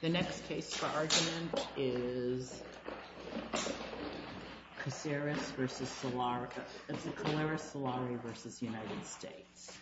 The next case for argument is Caceres versus Solari. It's a Caceres-Solari versus United States.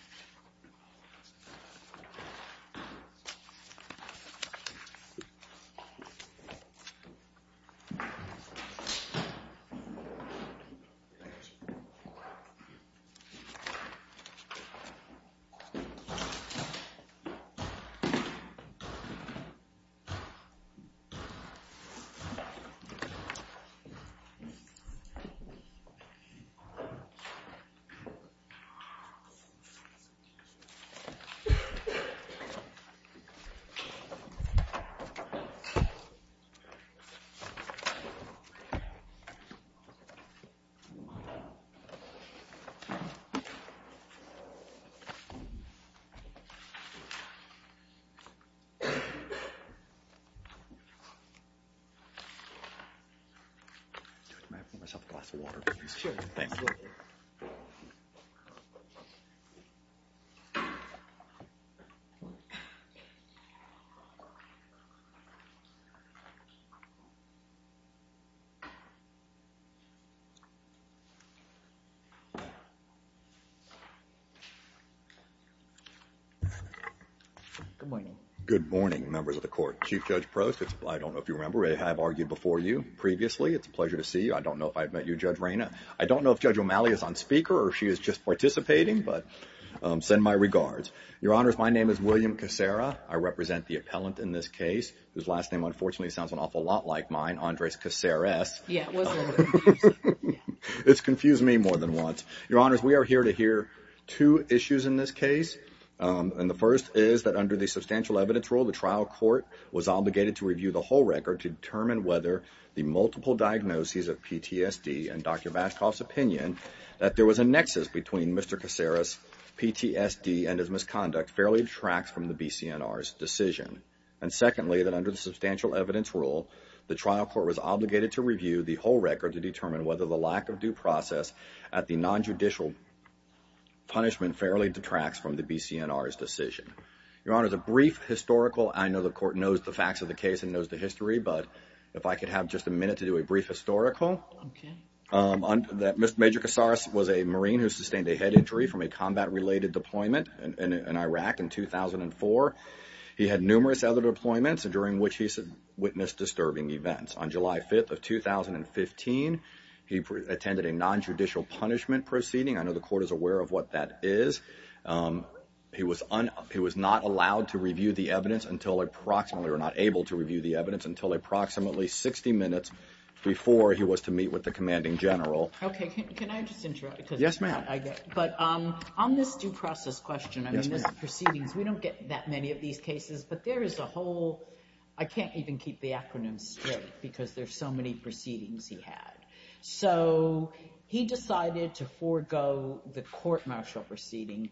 Good morning, members of the court. Chief Judge Prost. I don't know if you remember. I have argued before you previously. It's a pleasure to see you. I don't know if I've met you, Judge Reyna. I don't know if Judge O'Malley is on speaker, or she is just participating, but send my regards. Your Honors, my name is William Cacera. I represent the appellant in this case, whose last name unfortunately sounds an awful lot like mine, Andres Caceres. It's confused me more than once. Your Honors, we are here to hear two issues in this case. And the first is that under the substantial evidence rule, the trial court was obligated to review the whole record to determine whether the multiple diagnoses of PTSD and Dr. Bashkoff's opinion that there was a nexus between Mr. Caceres' PTSD and his misconduct fairly detracts from the BCNR's decision. And secondly, that under the substantial evidence rule, the trial court was obligated to review the whole record to determine whether the lack of due process at the non-judicial punishment fairly detracts from the BCNR's decision. Your Honors, a brief historical, I know the court knows the facts of the case and knows the history, but if I could have just a minute to do a brief historical. Mr. Major Caceres was a Marine who sustained a head injury from a combat-related deployment in Iraq in 2004. He had numerous other deployments during which he witnessed disturbing events. On July 5th of 2015, he attended a non-judicial punishment proceeding. I know the court is aware of what that is. He was not allowed to review the evidence until approximately, or not able to review the evidence, until approximately 60 minutes before he was to meet with the commanding general. Yes, ma'am. But on this due process question, I mean, this proceedings, we don't get that many of these cases, but there is a whole, I can't even keep the acronym straight because there's so many proceedings he had. So, he decided to forego the court martial proceeding.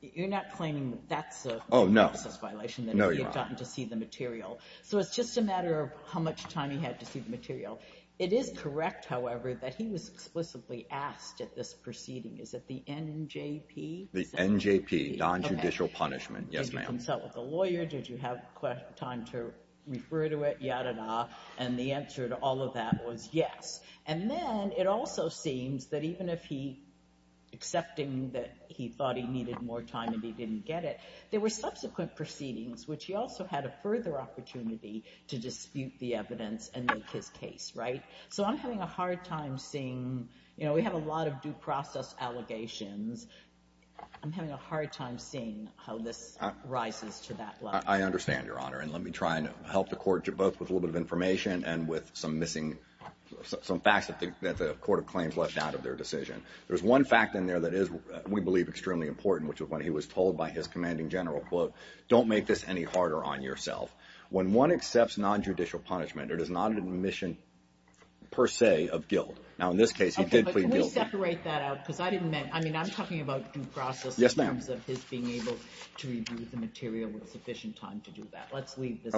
You're not claiming that's a... Oh, no.... due process violation, that he had gotten to see the material. So it's just a matter of how much time he had to see the material. It is correct, however, that he was explicitly asked at this proceeding, is it the NJP? The NJP, non-judicial punishment. Yes, ma'am. Did you consult with a lawyer? Did you have time to refer to it? Yada-da. And the answer to all of that was yes. And then, it also seems that even if he accepting that he thought he needed more time and he didn't get it, there were subsequent proceedings, which he also had a further opportunity to dispute the evidence and make his case, right? So I'm having a hard time seeing, you know, we have a lot of due process allegations. I'm having a hard time seeing how this rises to that level. I understand, Your Honor. And let me try and help the court, both with a little bit of information and with some missing, some facts that the Court of Claims left out of their decision. There's one fact in there that is, we believe, extremely important, which was when he was told by his commanding general, quote, don't make this any harder on yourself. When one accepts non-judicial punishment, it is not an admission, per se, of guilt. Now, in this case, he did plead guilty. Okay, but can we separate that out? Because I didn't mean, I mean, I'm talking about due process in terms of his being able to review the material with sufficient time to do that. Let's leave this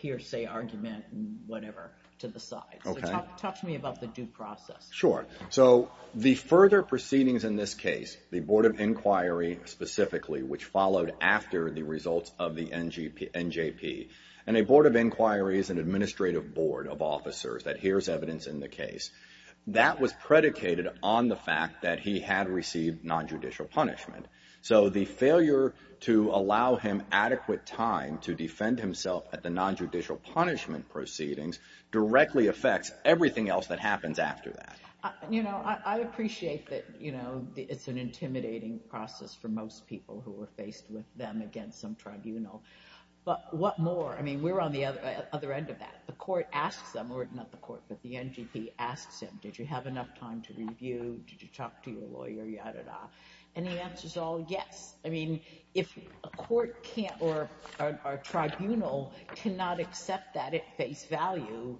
hearsay argument and whatever to the side. So talk to me about the due process. Sure. So the further proceedings in this case, the Board of Inquiry specifically, which followed after the results of the NJP, and a Board of Inquiry is an administrative board of officers that hears evidence in the case. That was predicated on the fact that he had received non-judicial punishment. So the failure to allow him adequate time to defend himself at the non-judicial punishment proceedings directly affects everything else that happens after that. You know, I appreciate that, you know, it's an intimidating process for most people who are faced with them against some tribunal. But what more? I mean, we're on the other end of that. The court asks them, or not the court, but the NJP asks him, did you have enough time to review? Did you talk to your lawyer, yadda yadda? And the answer's all yes. I mean, if a court can't or a tribunal cannot accept that at face value,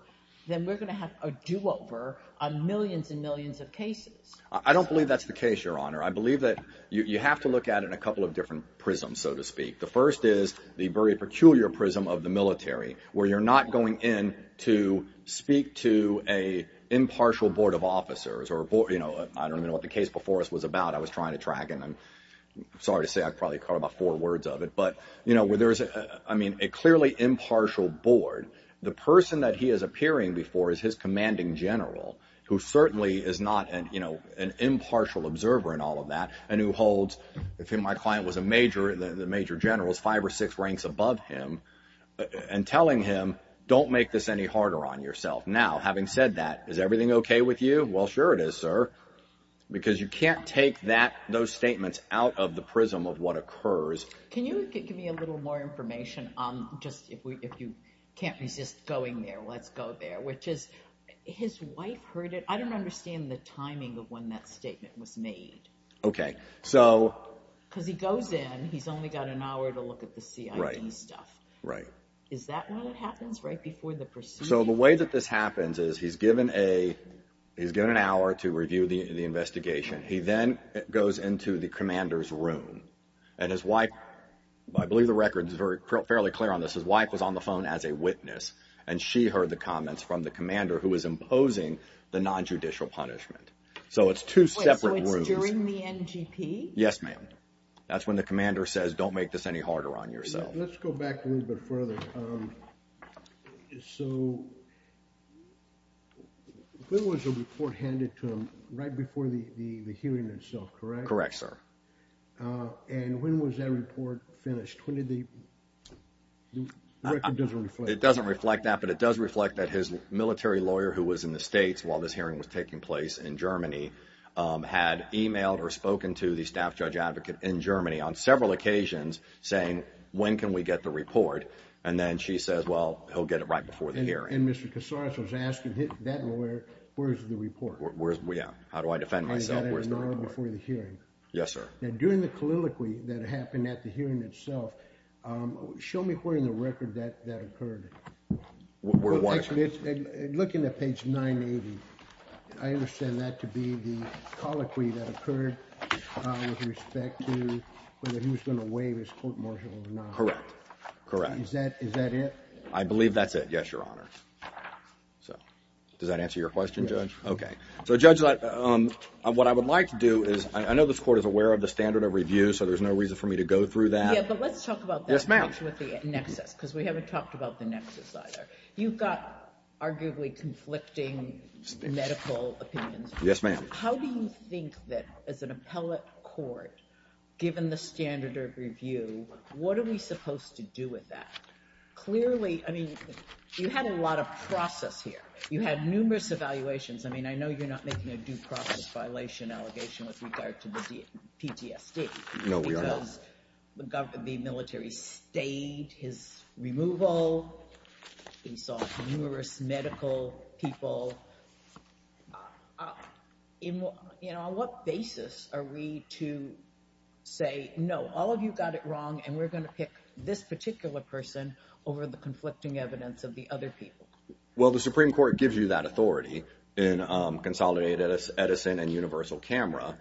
then we're going to have a do-over on millions and millions of cases. I don't believe that's the case, Your Honor. I believe that you have to look at it in a couple of different prisms, so to speak. The first is the very peculiar prism of the military, where you're not going in to speak to an impartial board of officers. Or, you know, I don't even know what the case before us was about. I was trying to track, and I'm sorry to say I probably caught about four words of it. But, you know, where there is, I mean, a clearly impartial board, the person that he is appearing before is his commanding general, who certainly is not an impartial observer in all of that, and who holds, if he and my client was a major, the major general's five or six ranks above him, and telling him, don't make this any harder on yourself. Now, having said that, is everything OK with you? Well, sure it is, sir, because you can't take that, those statements out of the prism of what occurs. Can you give me a little more information on just if you can't resist going there, let's go there, which is his wife heard it. I don't understand the timing of when that statement was made. OK, so because he goes in, he's only got an hour to look at the CID stuff, right? Is that when it happens? Right before the pursuit? So the way that this happens is he's given a he's given an hour to review the investigation. He then goes into the commander's room and his wife, I believe the record is fairly clear on this. His wife was on the phone as a witness, and she heard the comments from the commander who is imposing the nonjudicial punishment. So it's two separate rooms during the NGP. Yes, ma'am. That's when the commander says, don't make this any harder on yourself. Let's go back a little bit further. So there was a report handed to him right before the hearing itself, correct? Correct, sir. And when was that report finished? It doesn't reflect that, but it does reflect that his military lawyer, who was in the States while this hearing was taking place in Germany, had emailed or spoken to the staff judge advocate in Germany on several occasions saying, when can we get the report? And then she says, well, he'll get it right before the hearing. And Mr. Casares was asking that lawyer, where's the report? Where is it? Yeah. How do I defend myself? Where's the report? An hour before the hearing. Yes, sir. Now, during the colloquy that happened at the hearing itself, show me where in the record that that occurred. Where was it? Look in the page 980. I understand that to be the colloquy that occurred with respect to whether he was going to waive his court martial or not. Correct. Correct. Is that it? So does that answer your question, Judge? OK. So, Judge, what I would like to do is, I know this court is aware of the standard of review, so there's no reason for me to go through that. Yeah, but let's talk about that next, because we haven't talked about the nexus either. You've got arguably conflicting medical opinions. Yes, ma'am. How do you think that as an appellate court, given the standard of review, what are we supposed to do with that? Clearly, I mean, you had a lot of process here. You had numerous evaluations. I mean, I know you're not making a due process violation allegation with regard to the PTSD. No, we are not. The government, the military stayed his removal. We saw numerous medical people. You know, on what basis are we to say, no, all of you got it wrong and we're going to pick this particular person over the conflicting evidence of the other people? Well, the Supreme Court gives you that authority in consolidated Edison and universal camera,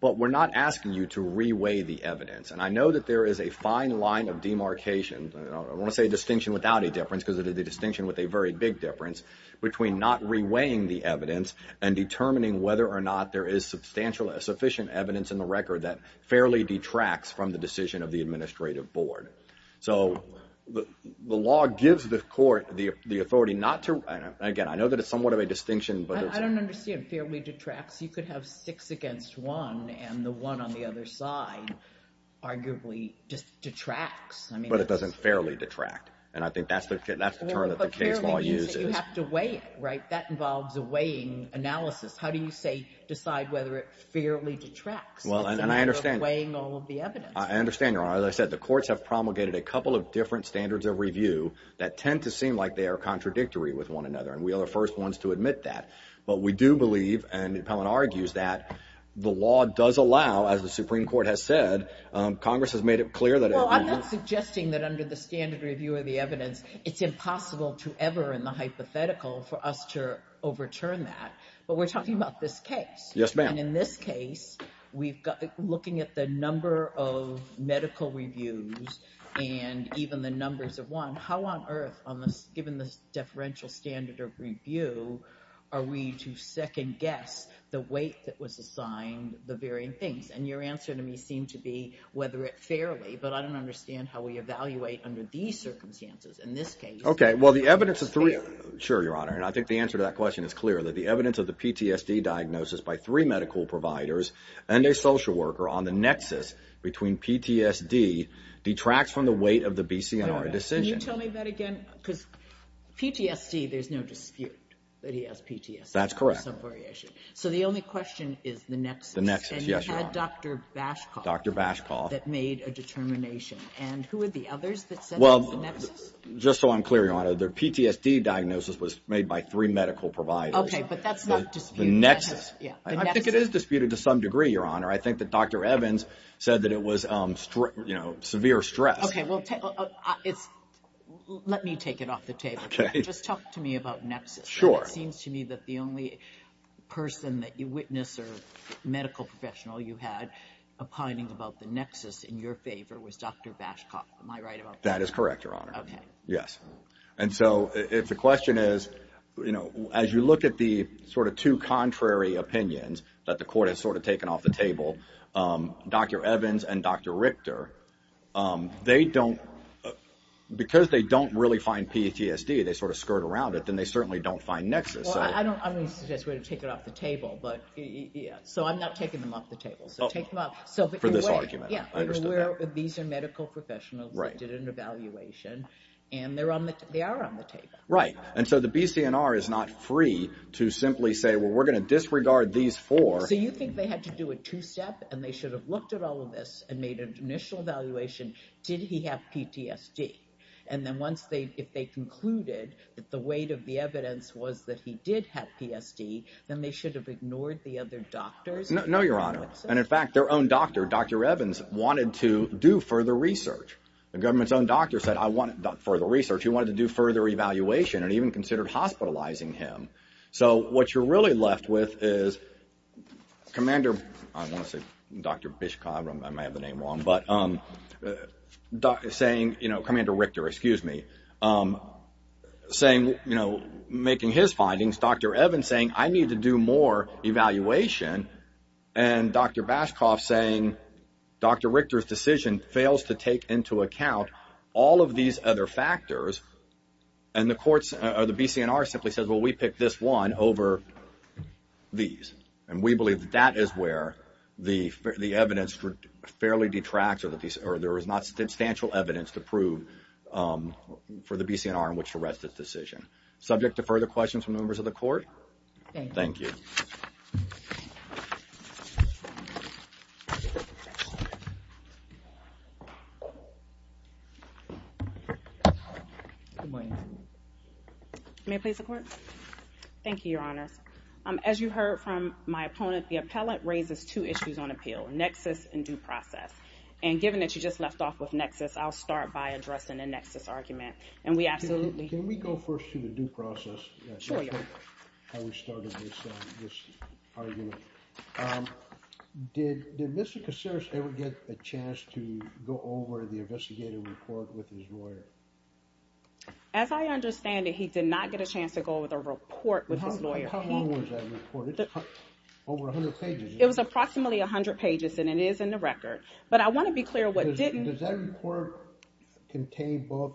but we're not asking you to reweigh the evidence. And I know that there is a fine line of demarcation. I want to say distinction without a difference because of the distinction with a very big difference between not reweighing the evidence and determining whether or not there is substantial sufficient evidence in the record that fairly detracts from the decision of the administrative board. So the law gives the court the authority not to, again, I know that it's somewhat of a distinction, but I don't understand. Fairly detracts. You could have six against one and the one on the other side arguably just detracts. But it doesn't fairly detract. And I think that's the that's the term that the case law uses. You have to weigh it, right? That involves a weighing analysis. How do you say decide whether it fairly detracts? Well, and I understand weighing all of the evidence. I understand. As I said, the courts have promulgated a couple of different standards of review that tend to seem like they are contradictory with one another. And we are the first ones to admit that. But we do believe, and Pellin argues, that the law does allow, as the Supreme Court has said, Congress has made it clear that I'm not suggesting that under the standard review of the evidence, it's impossible to ever in the hypothetical for us to overturn that. But we're talking about this case. Yes, ma'am. And in this case, we've got looking at the number of medical reviews and even the numbers of one, how on earth on this given this differential standard of review, are we to second guess the weight that was assigned the varying things? And your answer to me seemed to be whether it fairly, but I don't understand how we evaluate under these circumstances in this case. OK, well, the evidence is three. Sure, Your Honor. And I think the answer to that question is clear that the evidence of the PTSD diagnosis by three medical providers and a social worker on the nexus between PTSD detracts from the weight of the B.C. and our decision. Tell me that again, because PTSD, there's no dispute that he has PTSD. That's correct. So the only question is the next the next. Yes, you had Dr. Bash, Dr. Bash call that made a determination. And who are the others that said, well, just so I'm clear. Your honor, the PTSD diagnosis was made by three medical providers. OK, but that's not just the nexus. Yeah, I think it is disputed to some degree. Your honor, I think that Dr. Evans said that it was, you know, severe stress. OK, well, it's let me take it off the table. OK, just talk to me about nexus. Sure. It seems to me that the only person that you witness or medical professional you had opining about the nexus in your favor was Dr. Bashcock. Am I right about that? That is correct. Your honor. OK, yes. And so if the question is, you know, as you look at the sort of two contrary opinions that the court has sort of taken off the table, Dr. Evans and Dr. Richter, they don't because they don't really find PTSD. They sort of skirt around it. Then they certainly don't find nexus. So I don't I don't suggest we're going to take it off the table. But yeah, so I'm not taking them off the table. So take them off. So for this argument, yeah, these are medical professionals who did an evaluation. And they're on the they are on the table. Right. And so the BCNR is not free to simply say, well, we're going to disregard these four. So you think they had to do a two step and they should have looked at all of this and made an initial evaluation? Did he have PTSD? And then once they if they concluded that the weight of the evidence was that he did have PST, then they should have ignored the other doctors. No, your honor. And in fact, their own doctor, Dr. Evans, wanted to do further research. The government's own doctor said, I want further research. He wanted to do further evaluation and even considered hospitalizing him. So what you're really left with is commander. I want to say Dr. Bishop, I may have the name wrong, but saying, you know, Commander Richter, excuse me, saying, you know, making his findings. Dr. Evans saying I need to do more evaluation. And Dr. Bashkoff saying Dr. Richter's decision fails to take into account all of these other factors. And the courts or the BCNR simply says, well, we pick this one over these. And we believe that that is where the the evidence would fairly detract or that there is not substantial evidence to prove for the BCNR in which to rest its decision. Subject to further questions from members of the court. Thank you. Thank you, Your Honor. As you heard from my opponent, the appellate raises two issues on appeal, nexus and due process. And given that you just left off with nexus, I'll start by addressing the nexus argument. And we absolutely can. We go first to the due process. Sure, Your Honor. That's how we started this argument. Did Mr. Kaciris ever get a chance to go over the investigative report with his lawyer? As I understand it, he did not get a chance to go over the report with his lawyer. How long was that report? It's over 100 pages. It was approximately 100 pages. And it is in the record. But I want to be clear what didn't. Does that report contain both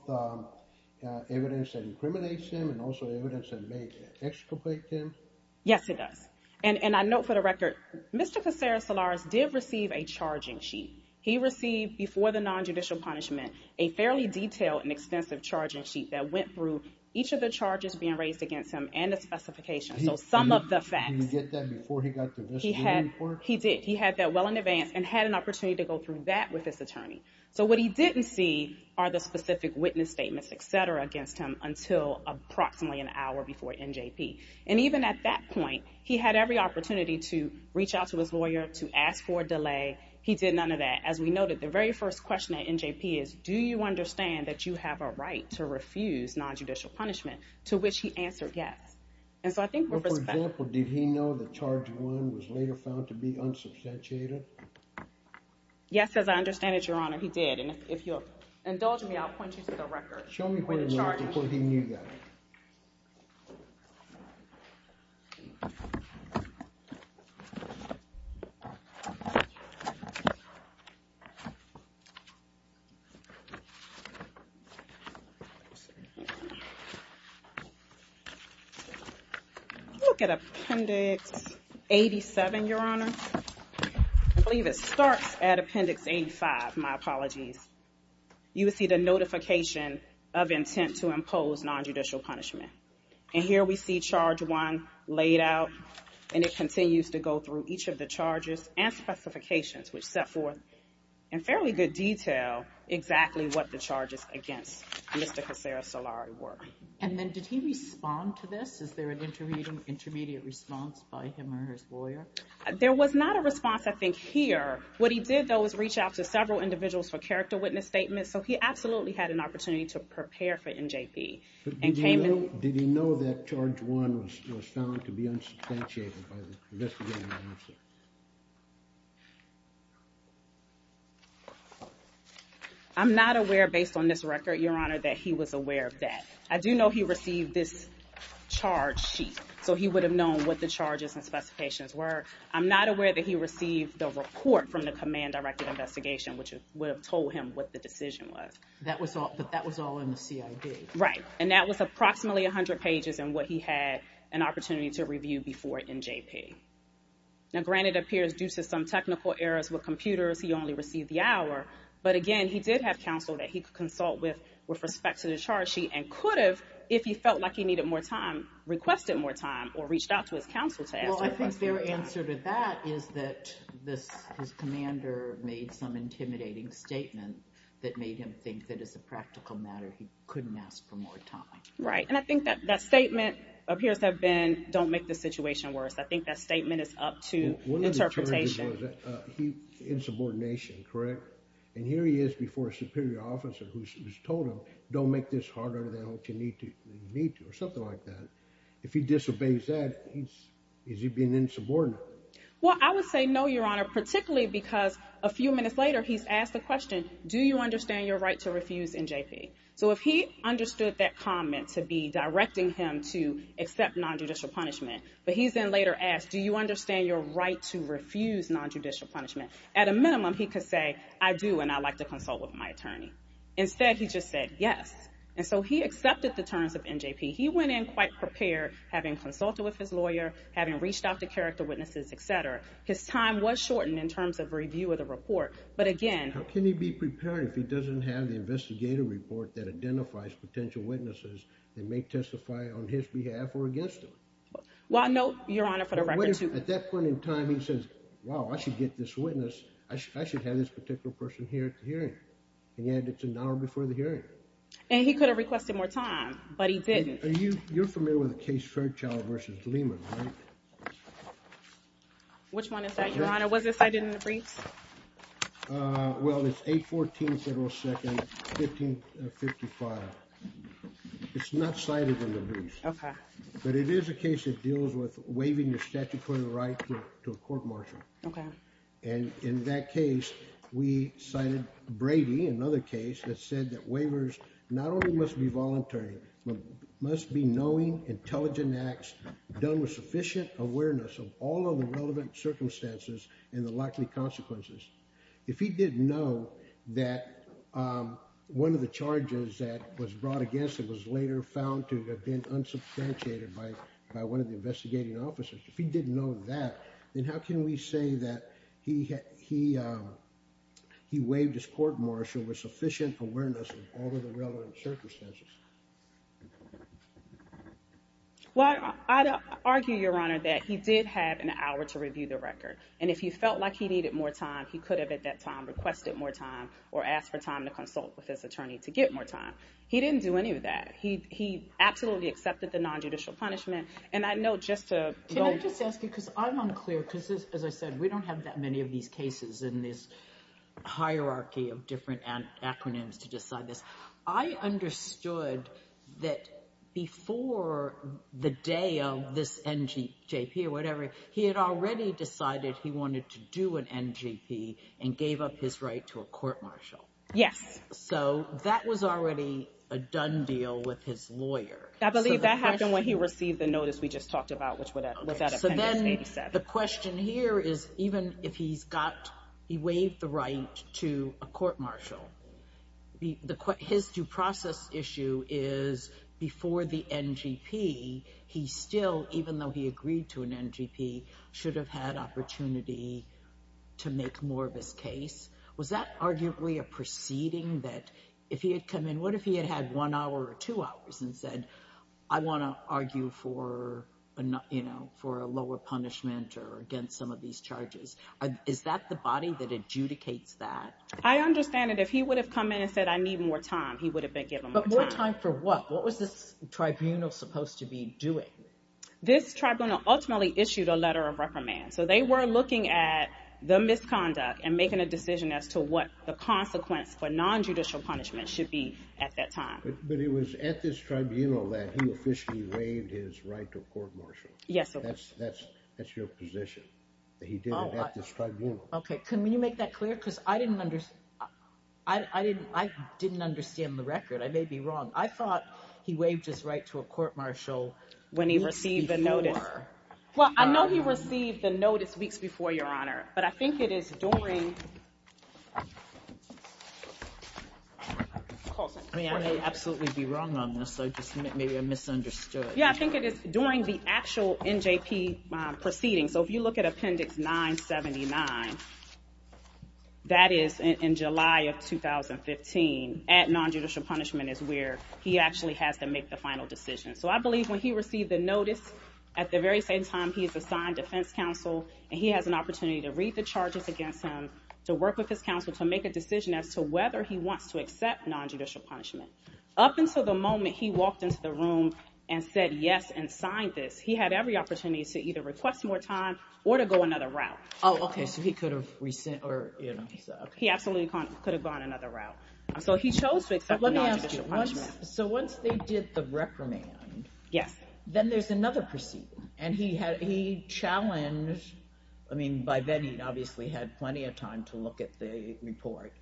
evidence that incriminates him and also evidence that may exculpate him? Yes, it does. And I note for the record, Mr. Kaciris Solaris did receive a charging sheet. He received, before the nonjudicial punishment, a fairly detailed and extensive charging sheet that went through each of the charges being raised against him and the specification. So some of the facts. Did he get that before he got the investigative report? He did. He had that well in advance and had an opportunity to go through that with his attorney. So what he didn't see are the specific witness statements, et cetera, against him until approximately an hour before NJP. And even at that point, he had every opportunity to reach out to his lawyer to ask for a delay. He did none of that. As we noted, the very first question at NJP is, do you understand that you have a right to refuse nonjudicial punishment? To which he answered, yes. And so I think, for example, did he know that charge one was later found to be unsubstantiated? Yes, as I understand it, Your Honor. He did. And if you'll indulge me, I'll point you to the record. Show me where he knew that. Look at Appendix 87, Your Honor. I believe it starts at Appendix 85. My apologies. You would see the notification of intent to impose nonjudicial punishment. And here we see charge one laid out, and it continues to go through each of the charges and specifications, which set forth in fairly good detail exactly what the charges against Mr. Kassara Solari were. And then did he respond to this? Is there an intermediate response by him or his lawyer? There was not a response, I think, here. What he did, though, was reach out to several individuals for character witness statements. So he absolutely had an opportunity to prepare for NJP. But did he know that charge one was found to be unsubstantiated by the investigating officer? I'm not aware, based on this record, Your Honor, that he was aware of that. I do know he received this charge sheet, so he would have known what the charges and specifications were. I'm not aware that he received the report from the command-directed investigation, which would have told him what the decision was. That was all in the CID? Right. And that was approximately 100 pages in what he had an opportunity to review before NJP. Now, granted, it appears due to some technical errors with computers, he only received the hour. But again, he did have counsel that he could consult with with respect to the charge sheet and could have, if he felt like he needed more time, requested more time or reached out to his counsel to ask for more time. Well, I think their answer to that is that this his commander made some intimidating statement that made him think that as a practical matter, he couldn't ask for more time. Right. And I think that that statement appears to have been, don't make the situation worse. I think that statement is up to interpretation. Insubordination, correct? And here he is before a superior officer who's told him, don't make this harder than you need to or something like that. If he disobeys that, is he being insubordinate? Well, I would say no, Your Honor, particularly because a few minutes later, he's asked the question, do you understand your right to refuse NJP? So if he understood that comment to be directing him to accept nonjudicial punishment, but he's then later asked, do you understand your right to refuse nonjudicial punishment? At a minimum, he could say, I do, and I'd like to consult with my attorney. Instead, he just said yes. And so he accepted the terms of NJP. He went in quite prepared, having consulted with his lawyer, having reached out to character witnesses, et cetera. His time was shortened in terms of review of the report. But again, how can he be prepared if he doesn't have the investigative report that identifies potential witnesses that may testify on his behalf or against him? Well, no, Your Honor, for the record, at that point in time, he says, wow, I should get this witness. I should have this particular person here at the hearing. And yet it's an hour before the hearing. And he could have requested more time, but he didn't. Are you familiar with the case Fairchild versus Lehman? Which one is that, Your Honor? Was it cited in the briefs? Well, it's 814 Federal Second, 1555. It's not cited in the brief. But it is a case that deals with waiving the statutory right to a court martial. And in that case, we cited Brady, another case that said that waivers not only must be voluntary, but must be knowing, intelligent acts done with sufficient awareness of all of the relevant circumstances and the likely consequences. If he didn't know that one of the charges that was brought against him was later found to have been unsubstantiated by one of the investigating officers, if he didn't know that, then how can we say that he waived his court martial with sufficient awareness of all of the relevant circumstances? Well, I'd argue, Your Honor, that he did have an hour to review the record. And if he felt like he needed more time, he could have, at that time, requested more time or asked for time to consult with his attorney to get more time. He didn't do any of that. He absolutely accepted the nonjudicial punishment. And I know just to... Can I just ask you, because I'm unclear, because as I said, we don't have that many of these cases in this hierarchy of different acronyms to decide this. I understood that before the day of this NGJP or whatever, he had already decided he wanted to do an NGP and gave up his right to a court martial. Yes. So that was already a done deal with his lawyer. I believe that happened when he received the notice we just talked about, which was at Appendix 87. The question here is, even if he's got, he waived the right to a court martial, his due process issue is before the NGP. He still, even though he agreed to an NGP, should have had opportunity to make more of his case. Was that arguably a proceeding that if he had come in, what if he had had one hour or two hours and said, I want to argue for, you know, for a lower punishment or against some of these charges, is that the body that adjudicates that? I understand that if he would have come in and said, I need more time, he would have been given more time. But more time for what? What was this tribunal supposed to be doing? This tribunal ultimately issued a letter of reprimand. So they were looking at the misconduct and making a decision as to what the consequence for non-judicial punishment should be at that time. But it was at this tribunal that he officially waived his right to a court martial. Yes, that's that's that's your position that he did it at this tribunal. OK, can you make that clear? Because I didn't understand the record. I may be wrong. I thought he waived his right to a court martial when he received the notice. Well, I know he received the notice weeks before, Your Honor, but I think it is during. I mean, I may absolutely be wrong on this, so just maybe I misunderstood. Yeah, I think it is during the actual NJP proceeding. So if you look at Appendix 979, that is in July of 2015 at non-judicial punishment is where he actually has to make the final decision. So I believe when he received the notice at the very same time, he is assigned defense counsel and he has an opportunity to read the charges against him, to work with his counsel, to make a decision as to whether he wants to accept non-judicial punishment. Up until the moment he walked into the room and said yes and signed this, he had every opportunity to either request more time or to go another route. Oh, OK, so he could have resented or he absolutely could have gone another route. So he chose to accept non-judicial punishment. So once they did the reprimand, yes, then there's another proceeding. And he had he challenged I mean, by then he obviously had plenty of time to look at the report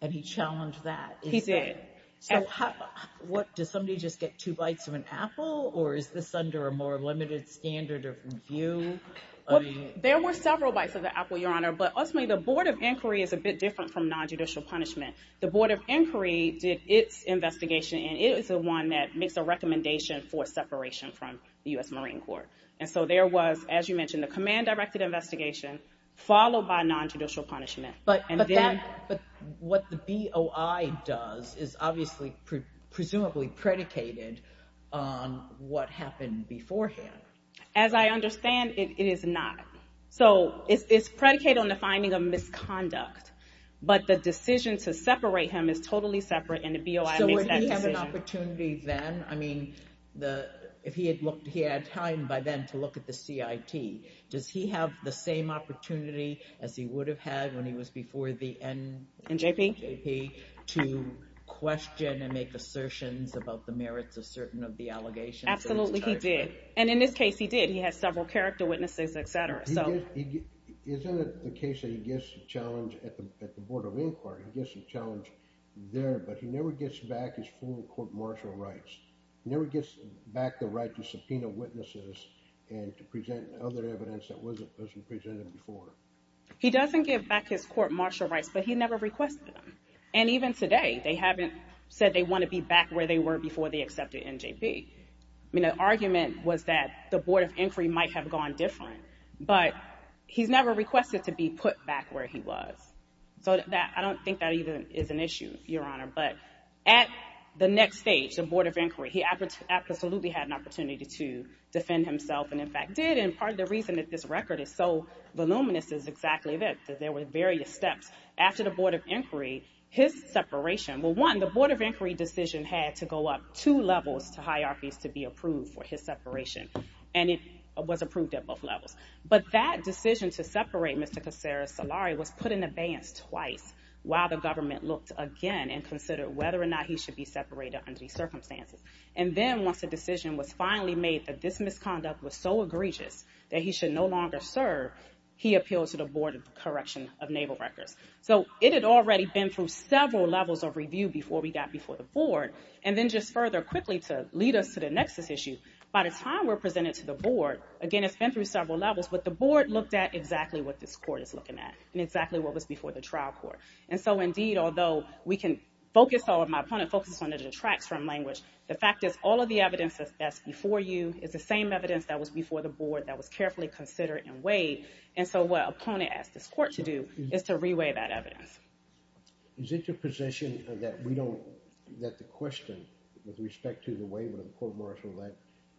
and he challenged that. He did. So what does somebody just get two bites of an apple or is this under a more limited standard of view? There were several bites of the apple, Your Honor. But ultimately, the Board of Inquiry is a bit different from non-judicial punishment. The Board of Inquiry did its investigation and it is the one that makes a recommendation for separation from the U.S. Marine Corps. And so there was, as you mentioned, the command directed investigation followed by non-judicial punishment. But what the BOI does is obviously presumably predicated on what happened beforehand. As I understand, it is not. So it's predicated on the finding of misconduct. But the decision to separate him is totally separate and the BOI makes that decision. So would he have an opportunity then? I mean, if he had looked, he had time by then to look at the CIT. Does he have the same opportunity as he would have had when he was before the NJP to question and make assertions about the merits of certain of the allegations? Absolutely, he did. And in this case, he did. He has several character witnesses, etc. So isn't it the case that he gets a challenge at the Board of Inquiry, he gets a challenge there, but he never gets back his full court martial rights. He never gets back the right to subpoena witnesses and to present other evidence that wasn't presented before. He doesn't give back his court martial rights, but he never requested them. And even today, they haven't said they want to be back where they were before they accepted NJP. I mean, the argument was that the Board of Inquiry might have gone different, but he's never requested to be put back where he was. So I don't think that even is an issue, Your Honor. But at the next stage, the Board of Inquiry, he absolutely had an opportunity to defend himself and, in fact, did. And part of the reason that this record is so voluminous is exactly that, that there were various steps after the Board of Inquiry, his separation. Well, one, the Board of Inquiry decision had to go up two levels to high arfies to be approved for his separation, and it was approved at both levels. But that decision to separate Mr. Kassara Salari was put in abeyance twice while the government looked again and considered whether or not he should be separated under these circumstances. And then once the decision was finally made that this misconduct was so egregious that he should no longer serve, he appealed to the Board of Correction of Naval Records. So it had already been through several levels of review before we got before the Board. And then just further, quickly, to lead us to the nexus issue, by the time we're presented to the Board, again, it's been through several levels, but the Board looked at exactly what this court is looking at and exactly what was before the trial court. And so, indeed, although we can focus, or my opponent focuses on the detracts from language, the fact is all of the evidence that's before you is the same evidence that was before the board that was carefully considered and weighed. And so what opponent asked this court to do is to reweigh that evidence. Is it your position that we don't, that the question with respect to the waiver of the court martial law,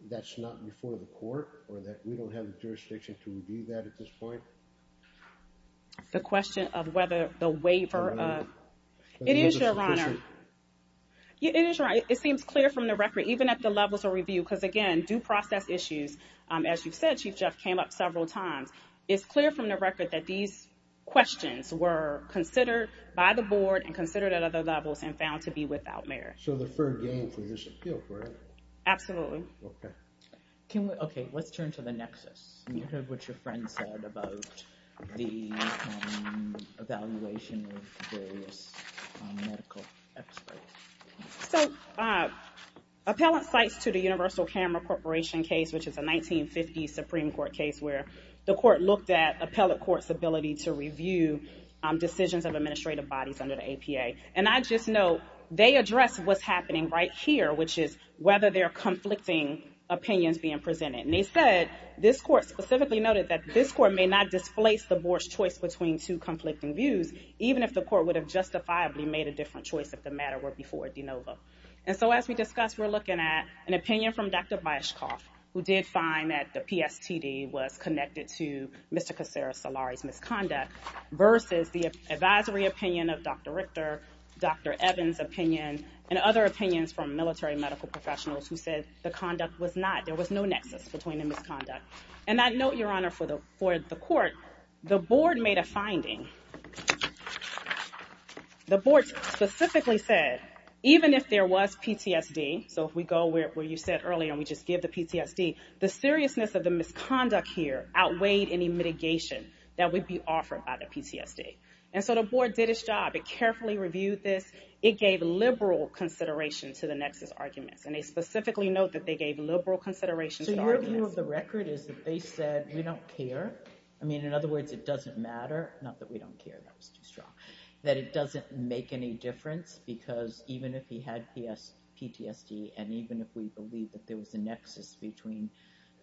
that's not before the court, or that we don't have the jurisdiction to review that at this point? The question of whether the waiver of, it is, Your Honor, it is, Your Honor, it seems clear from the record, even at the levels of review, because again, due process issues, as you've said, Chief Jeff came up several times. It's clear from the record that these questions were considered by the Board and considered at other levels and found to be without merit. So the third game for this appeal, correct? Absolutely. Okay, let's turn to the nexus. You heard what your friend said about the evaluation of various medical experts. So appellant cites to the Universal Camera Corporation case, which is a 1950 Supreme Court case where the court looked at appellate court's ability to review decisions of administrative bodies under the APA. And I just know they addressed what's happening right here, which is whether there are conflicting opinions being presented. And they said, this court specifically noted that this court may not displace the Board's choice between two conflicting views, even if the court would have justifiably made a different choice if the matter were before de novo. And so as we discussed, we're looking at an opinion from Dr. Biaschoff, who did find that the PSTD was connected to Mr. Kassara Salari's misconduct, versus the advisory opinion of Dr. Richter, Dr. Evans' opinion, and other opinions from military medical professionals who said the conduct was not, there was no nexus between the misconduct. And I note, Your Honor, for the court, the Board made a finding. The Board specifically said, even if there was PTSD, so if we go where you said earlier and we just give the PTSD, the seriousness of the misconduct here outweighed any mitigation that would be offered by the PTSD. And so the Board did its job. It carefully reviewed this. It gave liberal consideration to the nexus arguments. And they specifically note that they gave liberal consideration to the arguments. So your view of the record is that they said, we don't care. I mean, in other words, it doesn't matter. Not that we don't care, that was too strong. That it doesn't make any difference, because even if he had PTSD, and even if we believe that there was a nexus between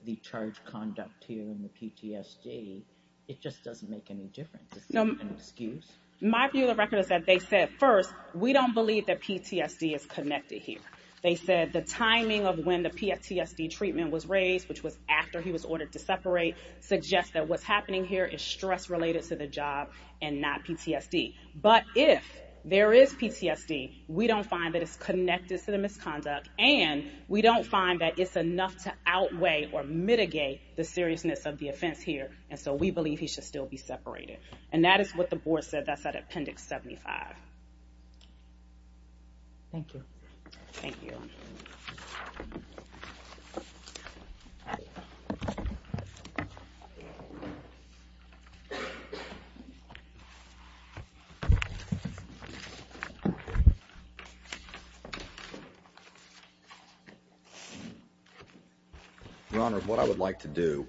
the charged conduct here and the PTSD, it just doesn't make any difference. Is that an excuse? My view of the record is that they said, first, we don't believe that PTSD is connected here. They said the timing of when the PTSD treatment was raised, which was after he was ordered to separate, suggests that what's happening here is stress-related to the job and not PTSD. But if there is PTSD, we don't find that it's connected to the misconduct, and we don't find that it's enough to outweigh or mitigate the seriousness of the offense here. And so we believe he should still be separated. And that is what the board said. That's that Appendix 75. Thank you. Thank you. Your Honor, what I would like to do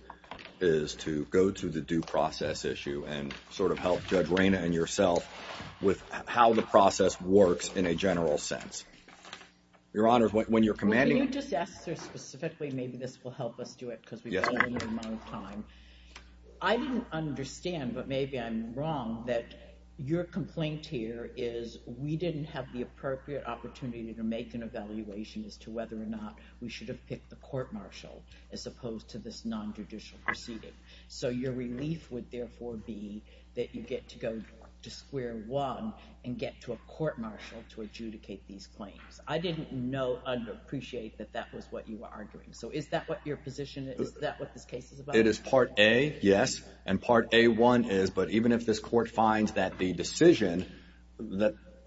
is to go to the due process issue and sort of help Judge Reyna and yourself with how the process works in a general sense. Your Honor, when you're commanding- Can you just ask her specifically, maybe this will help us do it, because we don't have a lot of time. I didn't understand, but maybe I'm wrong, that your complaint here is we didn't have the appropriate opportunity to make an evaluation as to whether or not we should have picked the court-martial as opposed to this non-judicial proceeding. So your relief would therefore be that you get to go to square one and get to a court-martial to adjudicate these claims. I didn't know and appreciate that that was what you were arguing. So is that what your position is? Is that what this case is about? It is Part A, yes, and Part A-1 is. But even if this court finds that the decision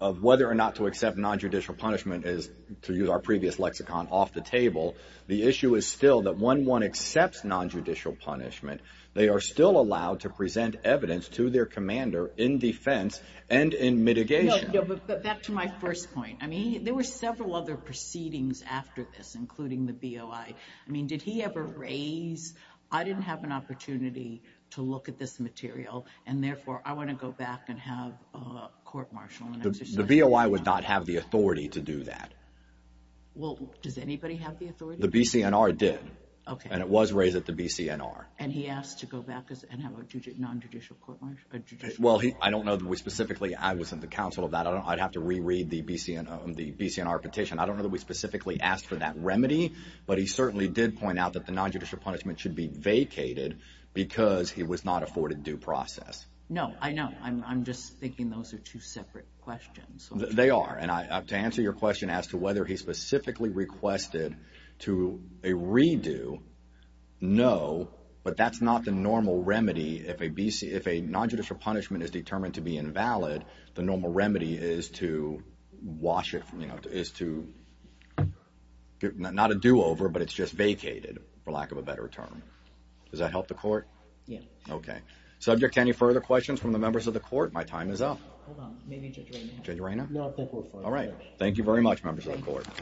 of whether or not to accept non-judicial punishment is, to use our previous lexicon, off the table, the issue is still that when one accepts non-judicial punishment, they are still allowed to present evidence to their commander in defense and in mitigation. No, but back to my first point. There were several other proceedings after this, including the BOI. Did he ever raise, I didn't have an opportunity to look at this material, and therefore, I want to go back and have a court-martial? The BOI would not have the authority to do that. Well, does anybody have the authority? The BCNR did, and it was raised at the BCNR. And he asked to go back and have a non-judicial court-martial? Well, I don't know that we specifically, I wasn't the counsel of that. I'd have to reread the BCNR petition. I don't know that we specifically asked for that remedy, but he certainly did point out that the non-judicial punishment should be vacated because he was not afforded due process. No, I know. I'm just thinking those are two separate questions. They are. And to answer your question as to whether he specifically requested to a redo, no. But that's not the normal remedy if a non-judicial punishment is determined to be invalid. The normal remedy is to wash it, is to, not a do-over, but it's just vacated, for lack of a better term. Does that help the court? Yeah. Okay. Subject to any further questions from the members of the court? My time is up. Hold on. Maybe Judge Reina. Judge Reina? All right. Thank you very much, members of the court. Have a wonderful day.